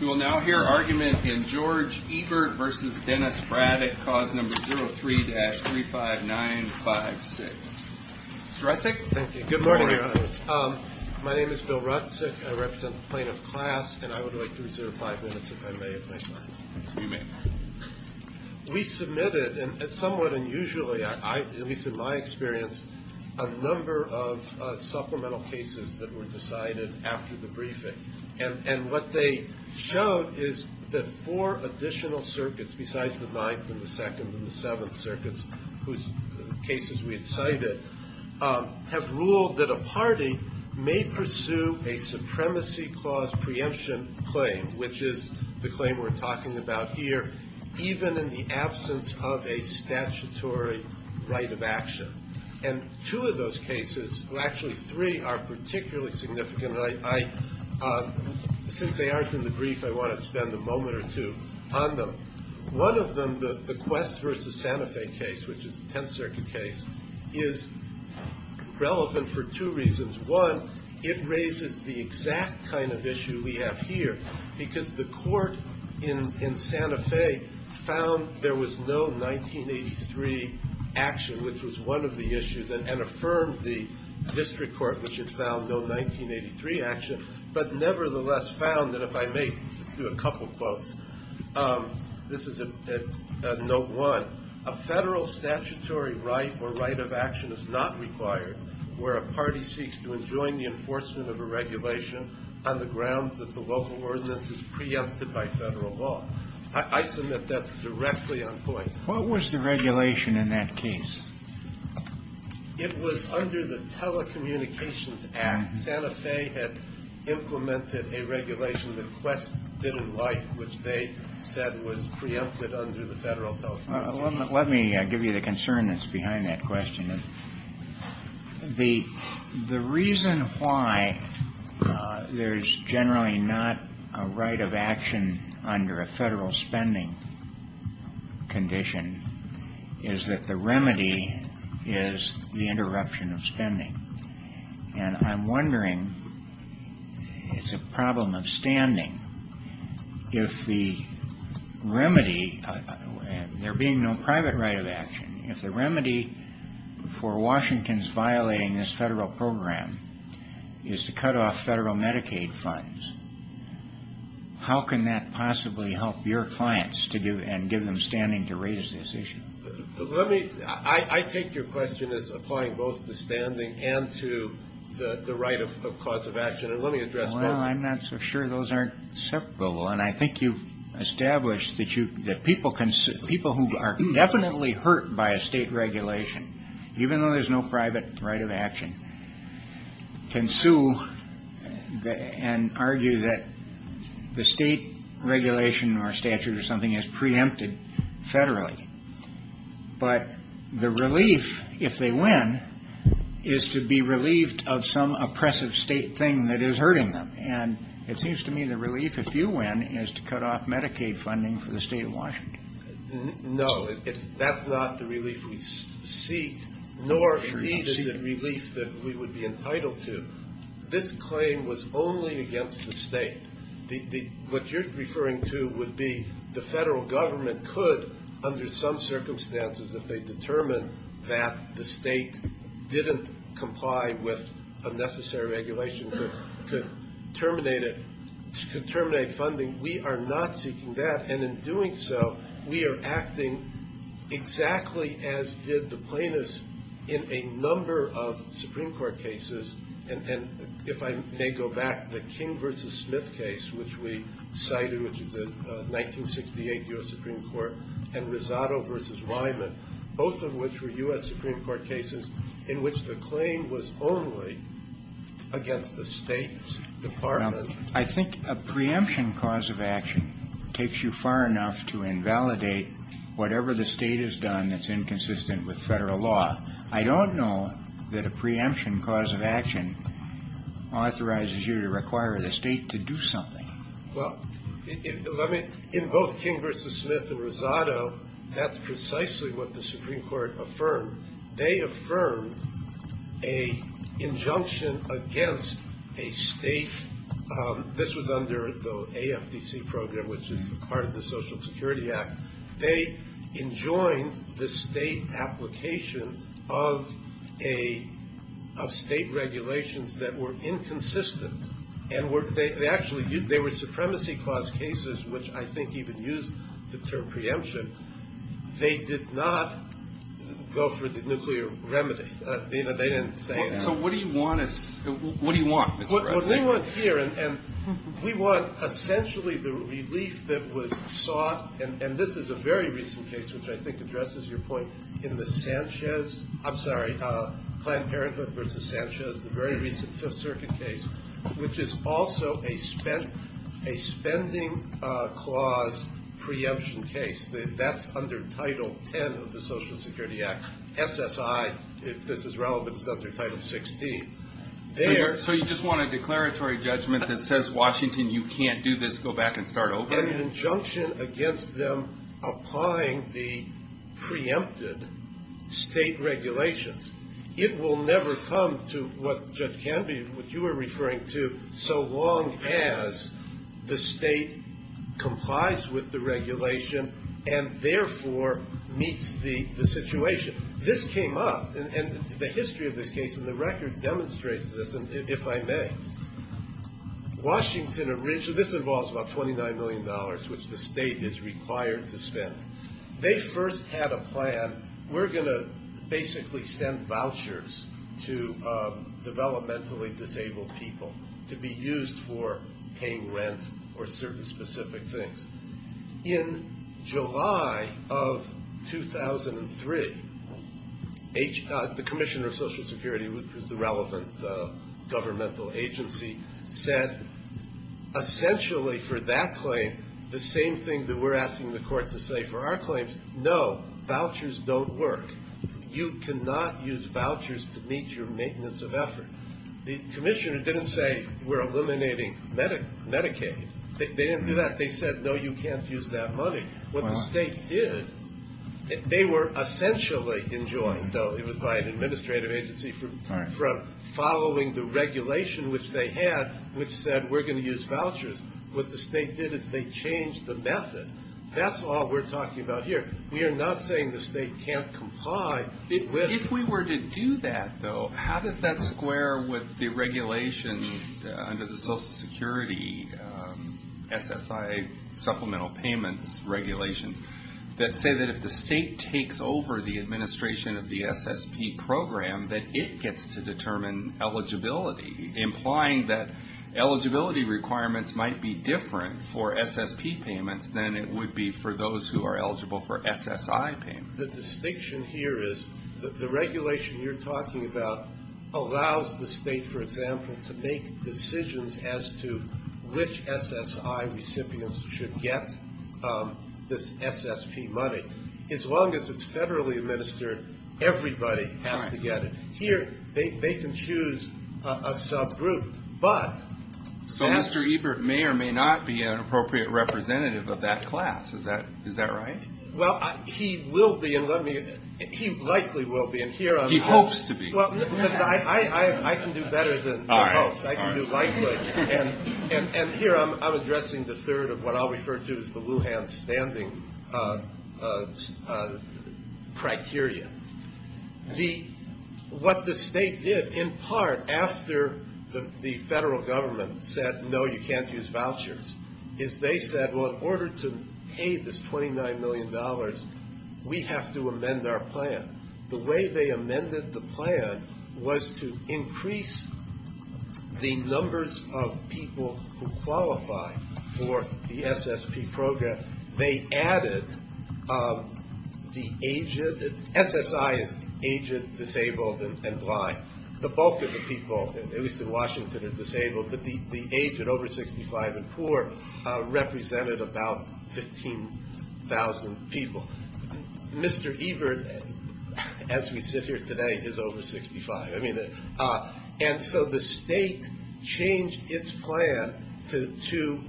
We will now hear argument in George Ebert v. Dennis Braddock, cause number 03-35956. Mr. Rutzik? Thank you. Good morning, Your Honors. My name is Bill Rutzik. I represent the plaintiff class, and I would like to reserve five minutes if I may, if I may. You may. We submitted, and somewhat unusually, at least in my experience, a number of supplemental cases that were decided after the briefing, and what they showed is that four additional circuits, besides the Ninth and the Second and the Seventh Circuits, whose cases we had cited, have ruled that a party may pursue a supremacy clause preemption claim, which is the claim we're talking about here, even in the absence of a statutory right of action. And two of those cases, well actually three, are particularly significant. Since they aren't in the brief, I want to spend a moment or two on them. One of them, the Quest v. Santa Fe case, which is the Tenth Circuit case, is relevant for two reasons. One, it raises the exact kind of issue we have here, because the court in Santa Fe found there was no 1983 action, which was one of the issues, and affirmed the district court, which had found no 1983 action, but nevertheless found that if I may, let's do a couple quotes. This is at note one. A federal statutory right or right of action is not required where a party seeks to enjoin the enforcement of a regulation on the grounds that the local ordinance is preempted by federal law. I submit that's directly on point. What was the regulation in that case? It was under the Telecommunications Act. Santa Fe had implemented a regulation that Quest didn't like, which they said was preempted under the Federal Telecommunications Act. Let me give you the concern that's behind that question. The reason why there's generally not a right of action under a federal spending condition is that the remedy is the interruption of spending. And I'm wondering, it's a problem of standing. If the remedy, there being no private right of action, if the remedy for Washington's violating this federal program is to cut off federal Medicaid funds, how can that possibly help your clients and give them standing to raise this issue? I take your question as applying both to standing and to the right of cause of action. Well, I'm not so sure those are separable. And I think you've established that people who are definitely hurt by a state regulation, even though there's no private right of action, can sue and argue that the state regulation or statute or something is preempted federally. But the relief, if they win, is to be relieved of some oppressive state thing that is hurting them. And it seems to me the relief, if you win, is to cut off Medicaid funding for the state of Washington. No, that's not the relief we seek, nor is it the relief that we would be entitled to. This claim was only against the state. What you're referring to would be the federal government could, under some circumstances, if they determine that the state didn't comply with a necessary regulation, could terminate it, could terminate funding. We are not seeking that. And in doing so, we are acting exactly as did the plaintiffs in a number of Supreme Court cases. And if I may go back, the King v. Smith case, which we cited, which is the 1968 U.S. Supreme Court, and Rosado v. Wyman, both of which were U.S. Supreme Court cases in which the claim was only against the state's department. I think a preemption cause of action takes you far enough to invalidate whatever the state has done that's inconsistent with federal law. I don't know that a preemption cause of action authorizes you to require the state to do something. Well, in both King v. Smith and Rosado, that's precisely what the Supreme Court affirmed. They affirmed an injunction against a state. This was under the AFDC program, which is part of the Social Security Act. They enjoined the state application of state regulations that were inconsistent. And they actually were supremacy clause cases, which I think even used the term preemption. They did not go for the nuclear remedy. They didn't say anything. And we want essentially the relief that was sought, and this is a very recent case, which I think addresses your point, in the Sanchez, I'm sorry, Planned Parenthood v. Sanchez, the very recent Fifth Circuit case, which is also a spending clause preemption case. That's under Title X of the Social Security Act. SSI, if this is relevant, is under Title XVI. So you just want a declaratory judgment that says, Washington, you can't do this. Go back and start over. An injunction against them applying the preempted state regulations. It will never come to what Judge Canby, what you were referring to, so long as the state complies with the regulation and therefore meets the situation. This came up, and the history of this case and the record demonstrates this, if I may. Washington originally, this involves about $29 million, which the state is required to spend. They first had a plan, we're going to basically send vouchers to developmentally disabled people to be used for paying rent or certain specific things. In July of 2003, the Commissioner of Social Security, which was the relevant governmental agency, said essentially for that claim the same thing that we're asking the court to say for our claims. No, vouchers don't work. You cannot use vouchers to meet your maintenance of effort. The Commissioner didn't say we're eliminating Medicaid. They didn't do that. They said, no, you can't use that money. What the state did, they were essentially enjoined, though it was by an administrative agency, from following the regulation which they had which said we're going to use vouchers. What the state did is they changed the method. That's all we're talking about here. We are not saying the state can't comply. If we were to do that, though, how does that square with the regulations under the Social Security SSI supplemental payments regulations that say that if the state takes over the administration of the SSP program that it gets to determine eligibility, implying that eligibility requirements might be different for SSP payments than it would be for those who are eligible for SSI payments? The distinction here is the regulation you're talking about allows the state, for example, to make decisions as to which SSI recipients should get this SSP money. As long as it's federally administered, everybody has to get it. Here, they can choose a subgroup, but Mr. Ebert may or may not be an appropriate representative of that class. Is that right? Well, he will be. He likely will be. He hopes to be. I can do better than he hopes. I can do likely. Here, I'm addressing the third of what I'll refer to as the Lujan standing criteria. What the state did, in part, after the federal government said, no, you can't use vouchers, is they said, well, in order to pay this $29 million, we have to amend our plan. The way they amended the plan was to increase the numbers of people who qualify for the SSP program. They added the agent. SSI is agent, disabled, and blind. The bulk of the people, at least in Washington, are disabled, but the age at over 65 and poor represented about 15,000 people. Mr. Ebert, as we sit here today, is over 65. And so the state changed its plan to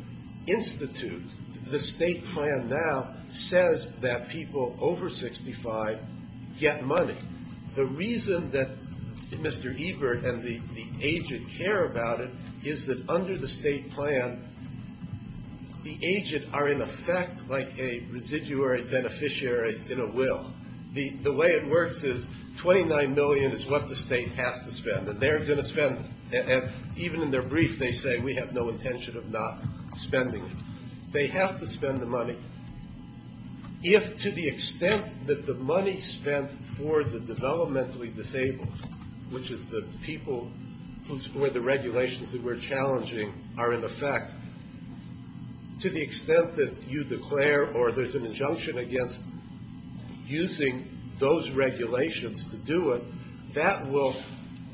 institute. The state plan now says that people over 65 get money. The reason that Mr. Ebert and the agent care about it is that under the state plan, the agent are in effect like a residuary beneficiary in a will. The way it works is $29 million is what the state has to spend, that they're going to spend it. And even in their brief, they say, we have no intention of not spending it. They have to spend the money. If, to the extent that the money spent for the developmentally disabled, which is the people for the regulations that we're challenging, are in effect, to the extent that you declare or there's an injunction against using those regulations to do it, that will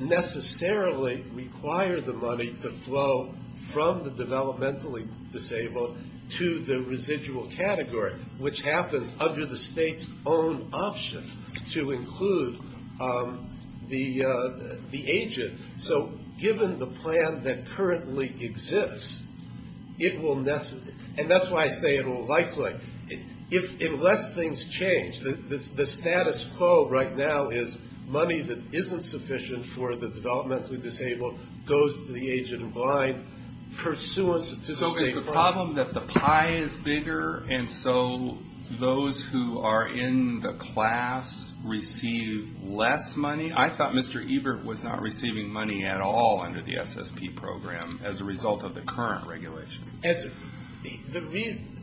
necessarily require the money to flow from the developmentally disabled to the residual category, which happens under the state's own option to include the agent. So given the plan that currently exists, it will, and that's why I say it will likely, unless things change, the status quo right now is money that isn't sufficient for the developmentally disabled goes to the agent in blind, pursuant to the state plan. So is the problem that the pie is bigger, and so those who are in the class receive less money? I thought Mr. Ebert was not receiving money at all under the SSP program as a result of the current regulations. The reason,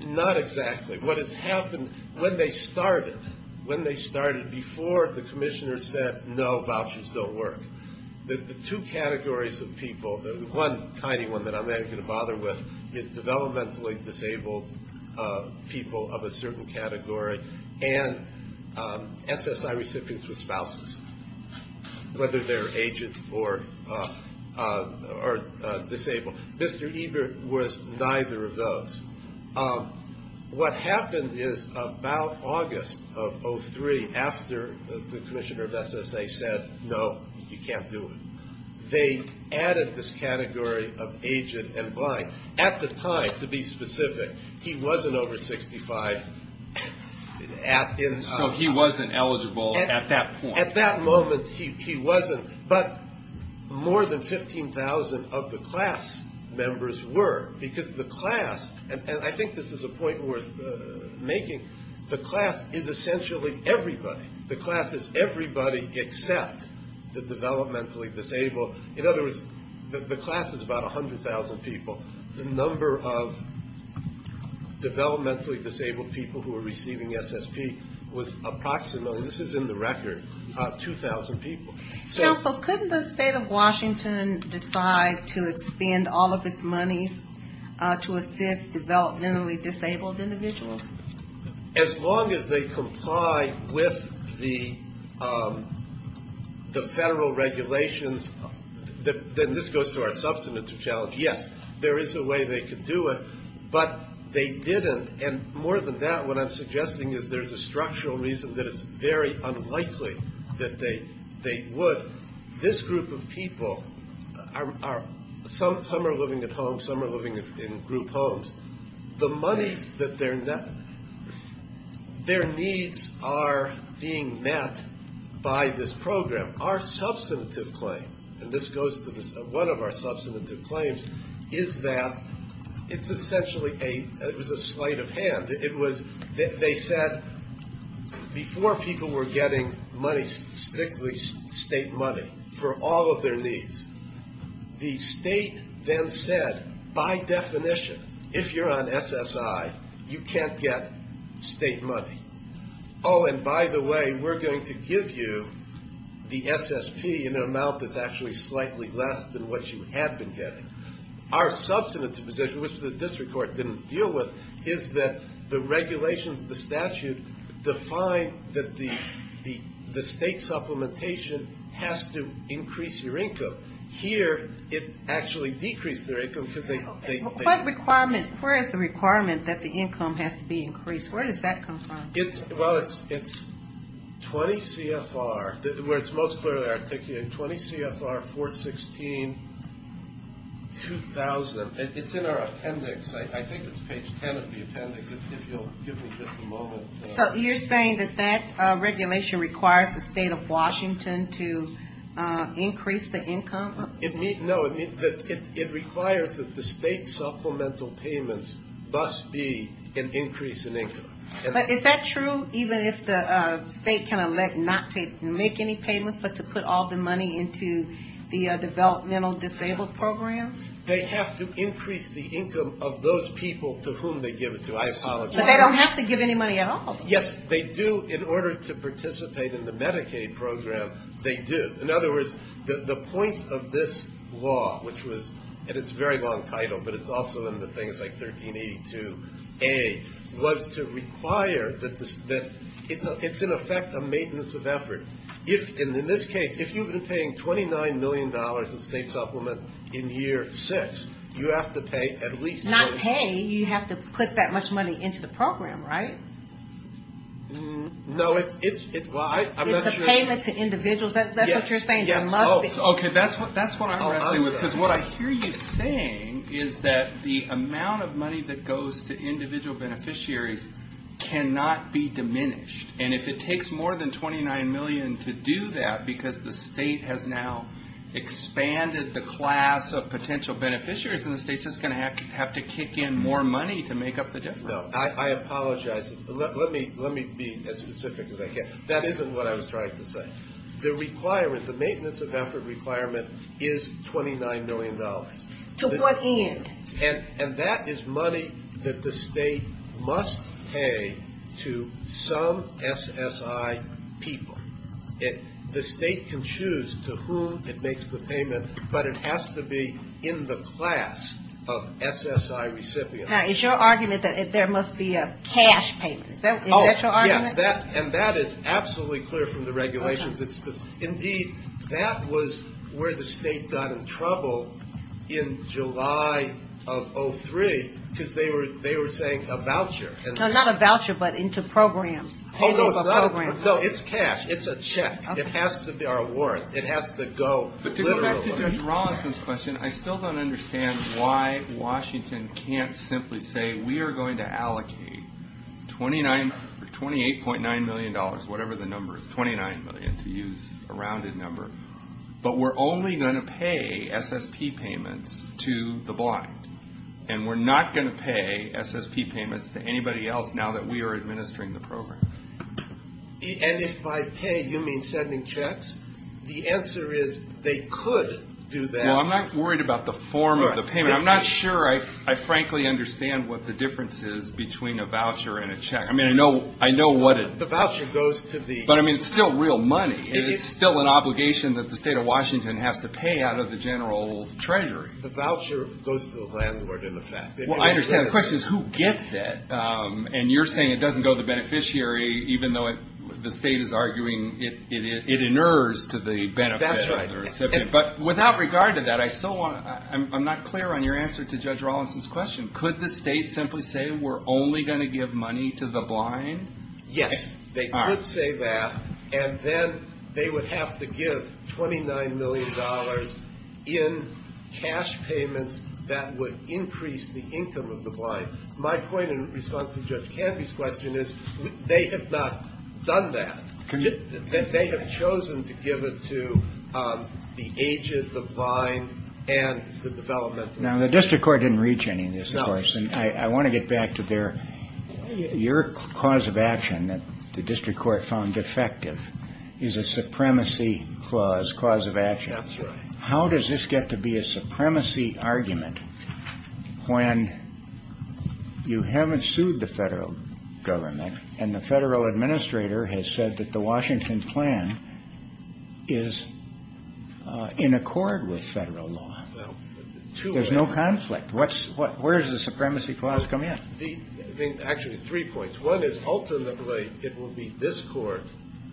not exactly. What has happened, when they started, when they started before the commissioner said, no, vouchers don't work, the two categories of people, the one tiny one that I'm not going to bother with, is developmentally disabled people of a certain category and SSI recipients with spouses, whether they're agents or disabled. Mr. Ebert was neither of those. What happened is about August of 2003, after the commissioner of SSA said, no, you can't do it, they added this category of agent in blind. At the time, to be specific, he wasn't over 65. So he wasn't eligible at that point. At that moment, he wasn't, but more than 15,000 of the class members were, because the class, and I think this is a point worth making, the class is essentially everybody. The class is everybody except the developmentally disabled. In other words, the class is about 100,000 people. The number of developmentally disabled people who are receiving SSP was approximately, and this is in the record, 2,000 people. Counsel, couldn't the state of Washington decide to expend all of its monies to assist developmentally disabled individuals? As long as they comply with the federal regulations, then this goes to our substantive challenge. Yes, there is a way they could do it, but they didn't. And more than that, what I'm suggesting is there's a structural reason that it's very unlikely that they would. This group of people are, some are living at home, some are living in group homes. The monies that they're, their needs are being met by this program. Our substantive claim, and this goes to one of our substantive claims, is that it's essentially a, it was a sleight of hand. It was, they said, before people were getting money, strictly state money for all of their needs, the state then said, by definition, if you're on SSI, you can't get state money. Oh, and by the way, we're going to give you the SSP in an amount that's actually slightly less than what you have been getting. Our substantive position, which the district court didn't deal with, is that the regulations, the statute, define that the state supplementation has to increase your income. Here, it actually decreased their income because they. What requirement, where is the requirement that the income has to be increased? Where does that come from? Well, it's 20 CFR, where it's most clearly articulated, 20 CFR 416-2000. It's in our appendix. I think it's page 10 of the appendix, if you'll give me just a moment. So you're saying that that regulation requires the state of Washington to increase the income? No, it requires that the state supplemental payments must be an increase in income. But is that true, even if the state cannot make any payments, but to put all the money into the developmental disabled programs? They have to increase the income of those people to whom they give it to. I apologize. But they don't have to give any money at all. Yes, they do. In order to participate in the Medicaid program, they do. In other words, the point of this law, which was, and it's a very long title, but it's also in the things like 1382A, was to require that it's, in effect, a maintenance of effort. In this case, if you've been paying $29 million in state supplement in year six, you have to pay at least that. Not pay. You have to put that much money into the program, right? No, it's, well, I'm not sure. Payment to individuals, that's what you're saying? Yes. Okay, that's what I'm wrestling with, because what I hear you saying is that the amount of money that goes to individual beneficiaries cannot be diminished. And if it takes more than $29 million to do that, because the state has now expanded the class of potential beneficiaries, then the state's just going to have to kick in more money to make up the difference. No, I apologize. Let me be as specific as I can. That isn't what I was trying to say. The requirement, the maintenance of effort requirement is $29 million. To what end? And that is money that the state must pay to some SSI people. The state can choose to whom it makes the payment, but it has to be in the class of SSI recipients. Now, is your argument that there must be a cash payment? Is that your argument? Yes, and that is absolutely clear from the regulations. Indeed, that was where the state got in trouble in July of 2003, because they were saying a voucher. No, not a voucher, but into programs. Oh, no, it's not a voucher. No, it's cash. It's a check. It has to be our warrant. It has to go literally. To go back to Judge Rawlinson's question, I still don't understand why Washington can't simply say, we are going to allocate $28.9 million, whatever the number is, $29 million, to use a rounded number, but we're only going to pay SSP payments to the blind, and we're not going to pay SSP payments to anybody else now that we are administering the program. And if by pay you mean sending checks, the answer is they could do that. Well, I'm not worried about the form of the payment. I'm not sure I frankly understand what the difference is between a voucher and a check. I mean, I know what it – The voucher goes to the – But, I mean, it's still real money, and it's still an obligation that the state of Washington has to pay out of the general treasury. The voucher goes to the landlord, in effect. Well, I understand. The question is, who gets it? And you're saying it doesn't go to the beneficiary, even though the state is arguing it inures to the benefit of the recipient. That's right. But without regard to that, I still want – I'm not clear on your answer to Judge Rawlinson's question. Could the state simply say, we're only going to give money to the blind? Yes, they could say that, and then they would have to give $29 million in cash payments that would increase the income of the blind. My point in response to Judge Canfie's question is they have not done that. They have chosen to give it to the aged, the blind, and the developmental. Now, the district court didn't reach any of this, of course. No. And I want to get back to their – your cause of action that the district court found defective is a supremacy clause, cause of action. That's right. How does this get to be a supremacy argument when you haven't sued the federal government and the federal administrator has said that the Washington plan is in accord with federal law? There's no conflict. Where does the supremacy clause come in? Actually, three points. One is, ultimately, it will be this court,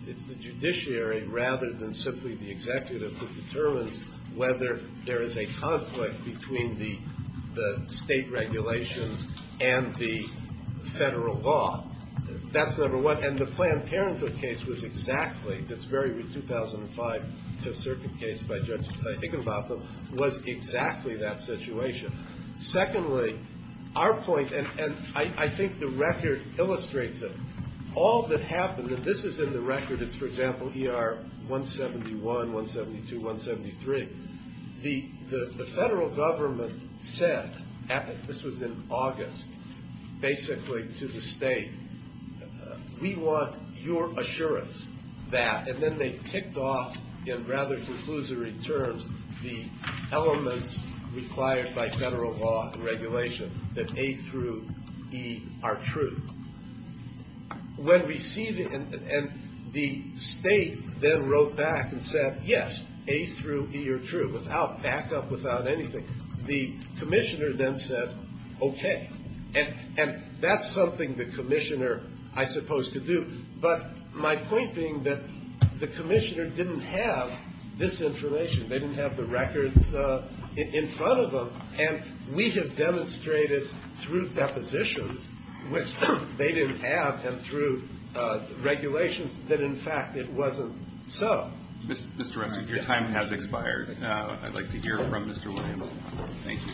it's the judiciary, rather than simply the executive, that determines whether there is a conflict between the state regulations and the federal law. That's number one. And the Planned Parenthood case was exactly – it's very 2005 circuit case by Judge Higginbotham – was exactly that situation. Secondly, our point – and I think the record illustrates it. All that happened – and this is in the record. It's, for example, ER 171, 172, 173. The federal government said – this was in August, basically, to the state – we want your assurance that – when receiving – and the state then wrote back and said, yes, A through E are true, without backup, without anything. The commissioner then said, okay. And that's something the commissioner, I suppose, could do. But my point being that the commissioner didn't have this information. They didn't have the records in front of them. And we have demonstrated through depositions, which they didn't have, and through regulations, that, in fact, it wasn't so. Mr. Ruskin, your time has expired. I'd like to hear from Mr. Williams. Thank you.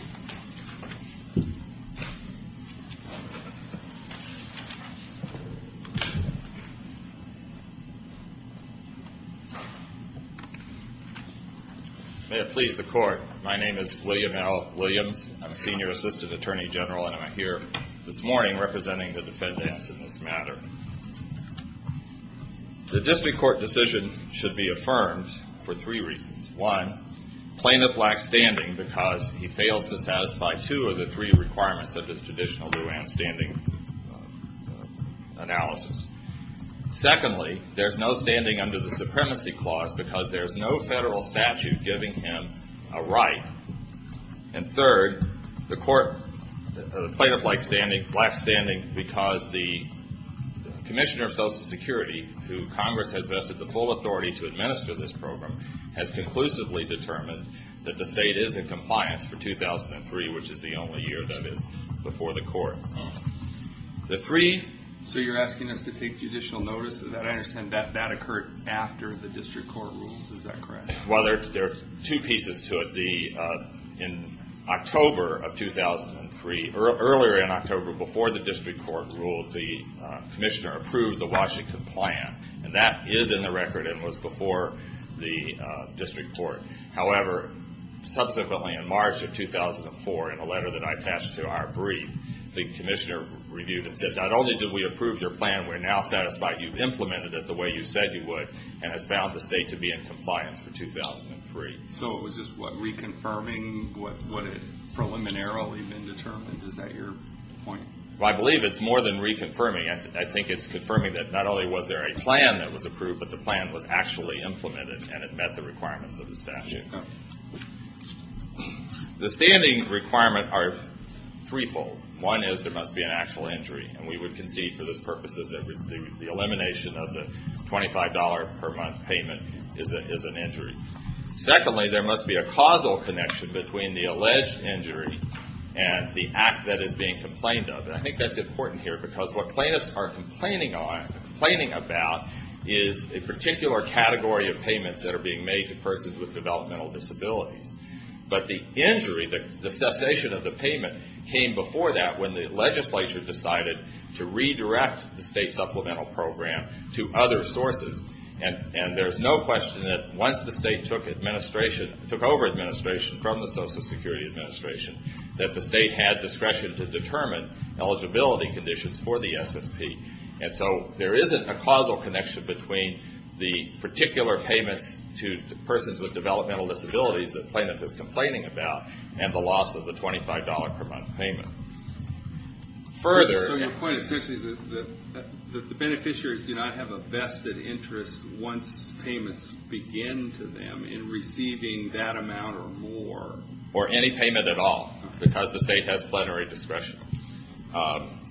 May it please the Court. My name is William L. Williams. I'm a senior assistant attorney general, and I'm here this morning representing the defendants in this matter. The district court decision should be affirmed for three reasons. One, plaintiff lacks standing because he fails to satisfy two of the three requirements of the traditional durand standing analysis. Secondly, there's no standing under the supremacy clause because there's no federal statute giving him a right. And third, the court – the plaintiff lacks standing because the commissioner of Social Security, who Congress has vested the full authority to administer this program, has conclusively determined that the state is in compliance for 2003, which is the only year that is before the court. The three – So you're asking us to take judicial notice of that? I understand that that occurred after the district court ruled. Is that correct? Well, there are two pieces to it. In October of 2003 – earlier in October, before the district court ruled, the commissioner approved the Washington plan, and that is in the record and was before the district court. However, subsequently in March of 2004, in a letter that I attached to our brief, the commissioner reviewed and said, not only did we approve your plan, we're now satisfied you've implemented it the way you said you would and has found the state to be in compliance for 2003. So it was just reconfirming what had preliminarily been determined? Is that your point? Well, I believe it's more than reconfirming. I think it's confirming that not only was there a plan that was approved, but the plan was actually implemented and it met the requirements of the statute. The standing requirements are threefold. One is there must be an actual injury, and we would concede for those purposes that the elimination of the $25 per month payment is an injury. Secondly, there must be a causal connection between the alleged injury and the act that is being complained of. And I think that's important here because what plaintiffs are complaining about is a particular category of payments that are being made to persons with developmental disabilities. But the injury, the cessation of the payment, came before that when the legislature decided to redirect the state supplemental program to other sources. And there's no question that once the state took over administration from the Social Security Administration, that the state had discretion to determine eligibility conditions for the SSP. And so there isn't a causal connection between the particular payments to persons with developmental disabilities that the plaintiff is complaining about and the loss of the $25 per month payment. So your point is essentially that the beneficiaries do not have a vested interest once payments begin to them in receiving that amount or more. Or any payment at all because the state has plenary discretion.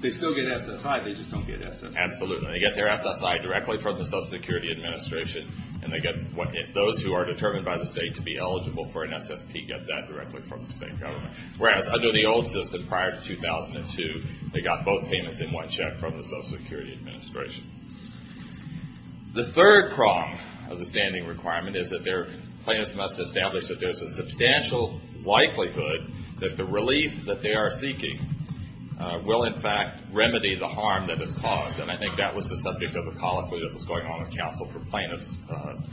They still get SSI, they just don't get SSI. Absolutely. They get their SSI directly from the Social Security Administration, and those who are determined by the state to be eligible for an SSP get that directly from the state government. Whereas under the old system prior to 2002, they got both payments in one check from the Social Security Administration. The third prong of the standing requirement is that plaintiffs must establish that there's a substantial likelihood that the relief that they are seeking will, in fact, remedy the harm that is caused. And I think that was the subject of a colloquy that was going on in counsel for plaintiffs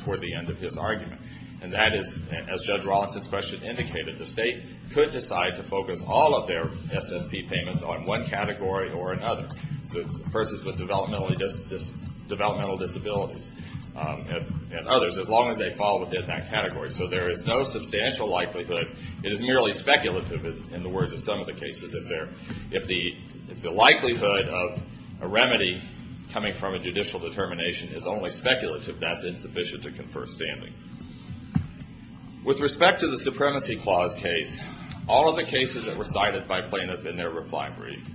toward the end of his argument. And that is, as Judge Rawlinson's question indicated, the state could decide to focus all of their SSP payments on one category or another. Persons with developmental disabilities and others, as long as they fall within that category. So there is no substantial likelihood. It is merely speculative in the words of some of the cases. If the likelihood of a remedy coming from a judicial determination is only speculative, that's insufficient to confer standing. With respect to the Supremacy Clause case, all of the cases that were cited by plaintiffs in their reply brief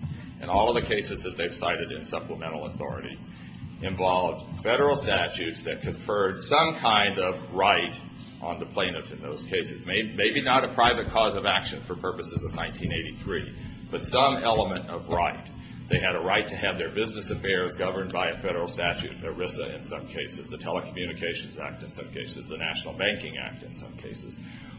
and all of the cases that they've cited in supplemental authority involved federal statutes that conferred some kind of right on the plaintiffs in those cases. Maybe not a private cause of action for purposes of 1983, but some element of right. They had a right to have their business affairs governed by a federal statute, ERISA in some cases, the Telecommunications Act in some cases, the National Banking Act in some cases,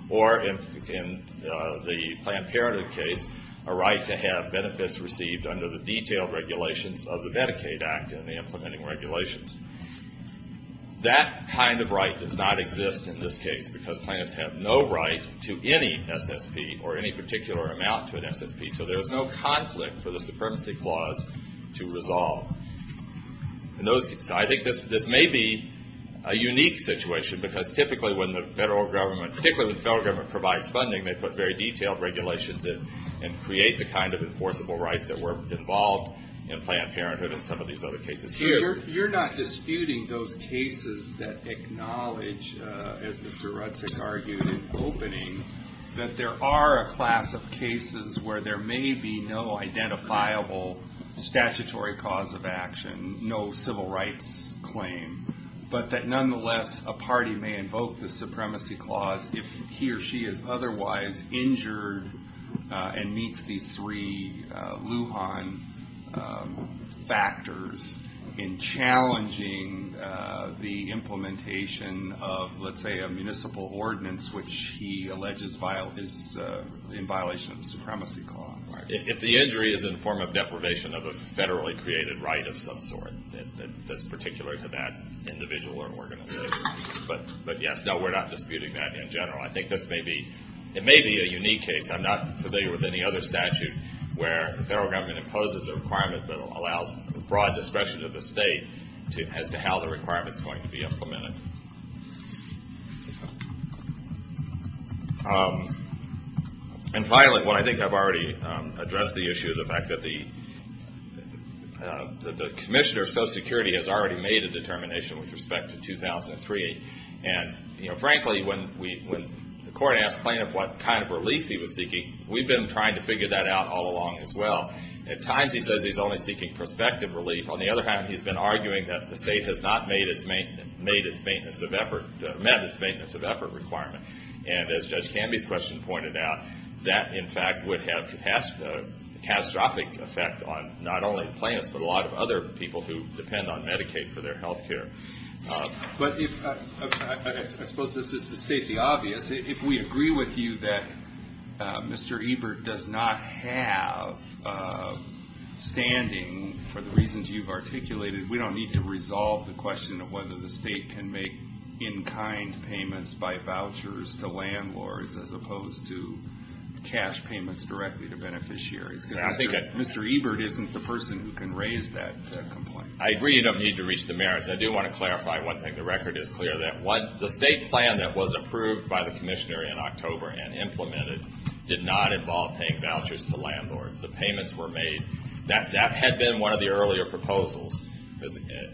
or in the Planned Parenthood case, a right to have benefits received under the detailed regulations of the Medicaid Act and the implementing regulations. That kind of right does not exist in this case because plaintiffs have no right to any SSP or any particular amount to an SSP. So there is no conflict for the Supremacy Clause to resolve. I think this may be a unique situation because typically when the federal government, particularly when the federal government provides funding, they put very detailed regulations in and create the kind of enforceable rights that were involved in Planned Parenthood and some of these other cases too. You're not disputing those cases that acknowledge, as Mr. Rudzik argued in opening, that there are a class of cases where there may be no identifiable statutory cause of action, no civil rights claim, but that nonetheless a party may invoke the Supremacy Clause if he or she is otherwise injured and meets these three Lujan factors in challenging the implementation of, let's say, a municipal ordinance which he alleges is in violation of the Supremacy Clause. If the injury is in the form of deprivation of a federally created right of some sort, that's particular to that individual or organization. But yes, no, we're not disputing that in general. I think this may be a unique case. I'm not familiar with any other statute where the federal government imposes a requirement but allows broad discretion of the state as to how the requirement is going to be implemented. And finally, what I think I've already addressed, the issue of the fact that the commissioner of Social Security has already made a determination with respect to 2003. And frankly, when the court asked plaintiff what kind of relief he was seeking, we've been trying to figure that out all along as well. At times he says he's only seeking prospective relief. On the other hand, he's been arguing that the state has not met its maintenance of effort requirement. And as Judge Canby's question pointed out, that in fact would have a catastrophic effect on not only the plaintiffs but a lot of other people who depend on Medicaid for their health care. But I suppose this is to state the obvious. If we agree with you that Mr. Ebert does not have standing for the reasons you've articulated, we don't need to resolve the question of whether the state can make in-kind payments by vouchers to landlords as opposed to cash payments directly to beneficiaries. Mr. Ebert isn't the person who can raise that complaint. I agree you don't need to reach the merits. I do want to clarify one thing. The record is clear that the state plan that was approved by the commission in October and implemented did not involve paying vouchers to landlords. The payments were made. That had been one of the earlier proposals.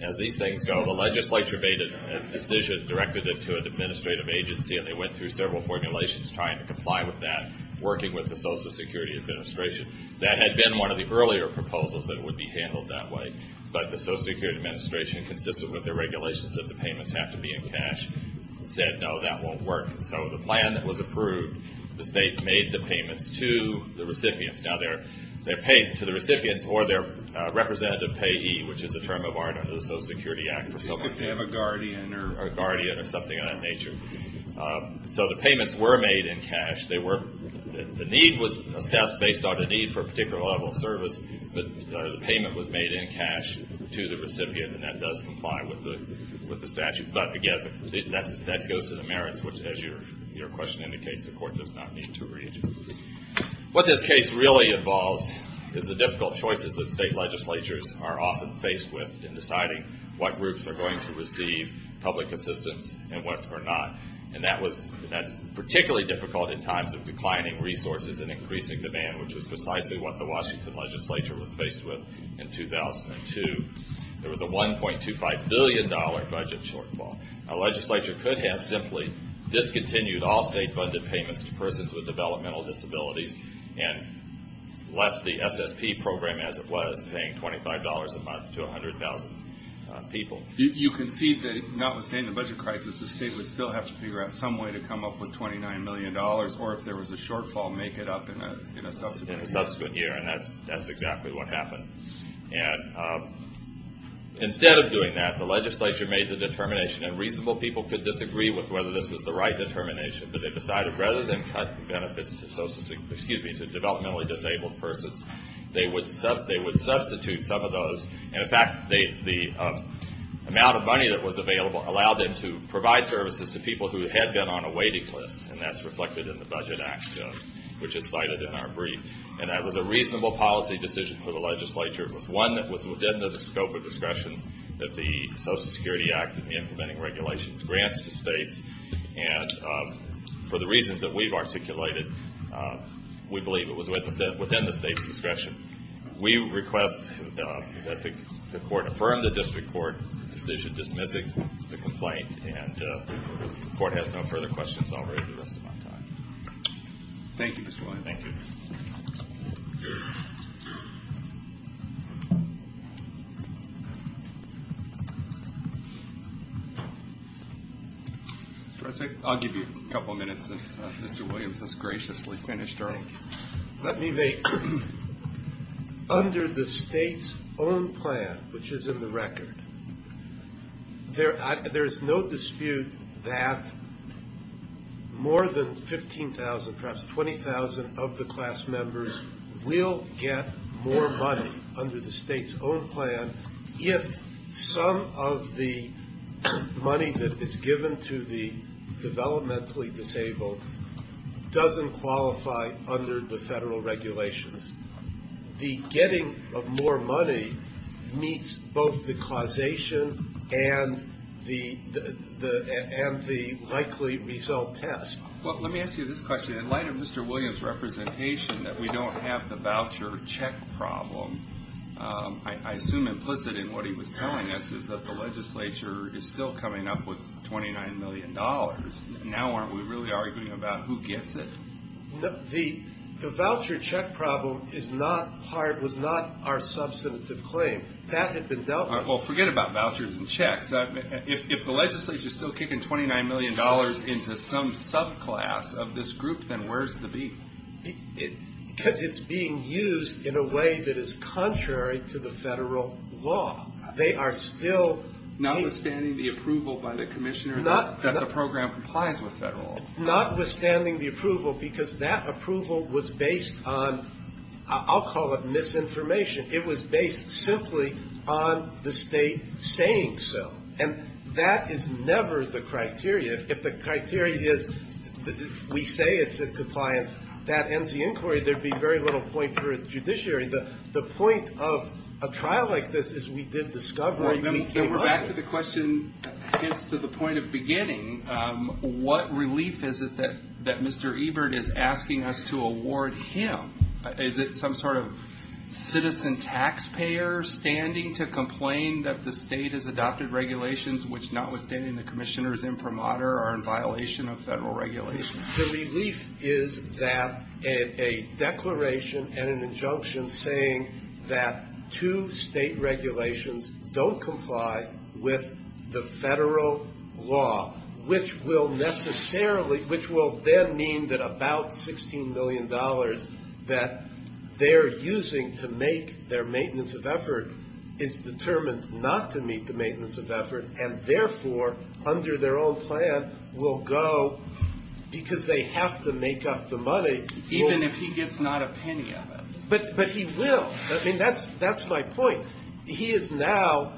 As these things go, the legislature made a decision, directed it to an administrative agency, and they went through several formulations trying to comply with that, working with the Social Security Administration. That had been one of the earlier proposals that would be handled that way. But the Social Security Administration, consistent with the regulations that the payments have to be in cash, said no, that won't work. So the plan that was approved, the state made the payments to the recipients. Now, they're paid to the recipients or their representative payee, which is a term of honor under the Social Security Act. A guardian or something of that nature. So the payments were made in cash. The need was assessed based on a need for a particular level of service. The payment was made in cash to the recipient, and that does comply with the statute. But, again, that goes to the merits, which, as your question indicates, the court does not need to read. What this case really involves is the difficult choices that state legislatures are often faced with in deciding what groups are going to receive public assistance and what are not. And that's particularly difficult in times of declining resources and increasing demand, which is precisely what the Washington legislature was faced with in 2002. There was a $1.25 billion budget shortfall. A legislature could have simply discontinued all state-funded payments to persons with developmental disabilities and left the SSP program as it was, paying $25 a month to 100,000 people. You concede that, notwithstanding the budget crisis, the state would still have to figure out some way to come up with $29 million, or if there was a shortfall, make it up in a subsequent year. In a subsequent year, and that's exactly what happened. And instead of doing that, the legislature made the determination, and reasonable people could disagree with whether this was the right determination, but they decided rather than cut the benefits to developmentally disabled persons, they would substitute some of those. And, in fact, the amount of money that was available allowed them to provide services to people who had been on a waiting list. And that's reflected in the Budget Act, which is cited in our brief. And that was a reasonable policy decision for the legislature. It was one that was within the scope of discretion that the Social Security Act in implementing regulations grants to states. And for the reasons that we've articulated, we believe it was within the state's discretion. We request that the court affirm the district court decision dismissing the complaint and if the court has no further questions, I'll raise the rest of my time. Thank you, Mr. Williams. Thank you. I'll give you a couple of minutes since Mr. Williams has graciously finished. Let me make, under the state's own plan, which is in the record, there is no dispute that more than 15,000, perhaps 20,000 of the class members will get more money under the state's own plan if some of the money that is given to the developmentally disabled doesn't qualify under the federal regulations. The getting of more money meets both the causation and the likely result test. Well, let me ask you this question. In light of Mr. Williams' representation that we don't have the voucher check problem, I assume implicit in what he was telling us is that the legislature is still coming up with $29 million. Now aren't we really arguing about who gets it? The voucher check problem was not our substantive claim. That had been dealt with. Well, forget about vouchers and checks. If the legislature is still kicking $29 million into some subclass of this group, then where's the beat? Because it's being used in a way that is contrary to the federal law. They are still being used. Notwithstanding the approval by the commissioner that the program complies with federal law. Notwithstanding the approval because that approval was based on, I'll call it misinformation. It was based simply on the state saying so. And that is never the criteria. If the criteria is we say it's in compliance, that ends the inquiry. There would be very little point for a judiciary. The point of a trial like this is we did discovery. Back to the question, hence to the point of beginning. What relief is it that Mr. Ebert is asking us to award him? Is it some sort of citizen taxpayer standing to complain that the state has adopted regulations which, notwithstanding the commissioner's imprimatur, are in violation of federal regulations? The relief is that a declaration and an injunction saying that two state regulations don't comply with the federal law, which will then mean that about $16 million that they're using to make their maintenance of effort is determined not to meet the Because they have to make up the money. Even if he gets not a penny of it. But he will. I mean, that's my point. He is now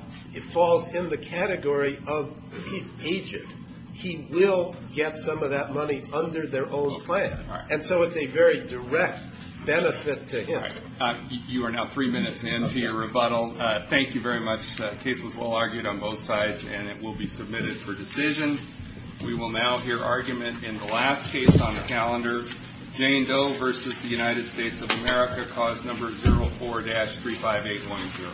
falls in the category of agent. He will get some of that money under their own plan. And so it's a very direct benefit to him. You are now three minutes into your rebuttal. Thank you very much. The case was well argued on both sides, and it will be submitted for decision. We will now hear argument in the last case on the calendar. Jane Doe versus the United States of America, cause number 04-35810.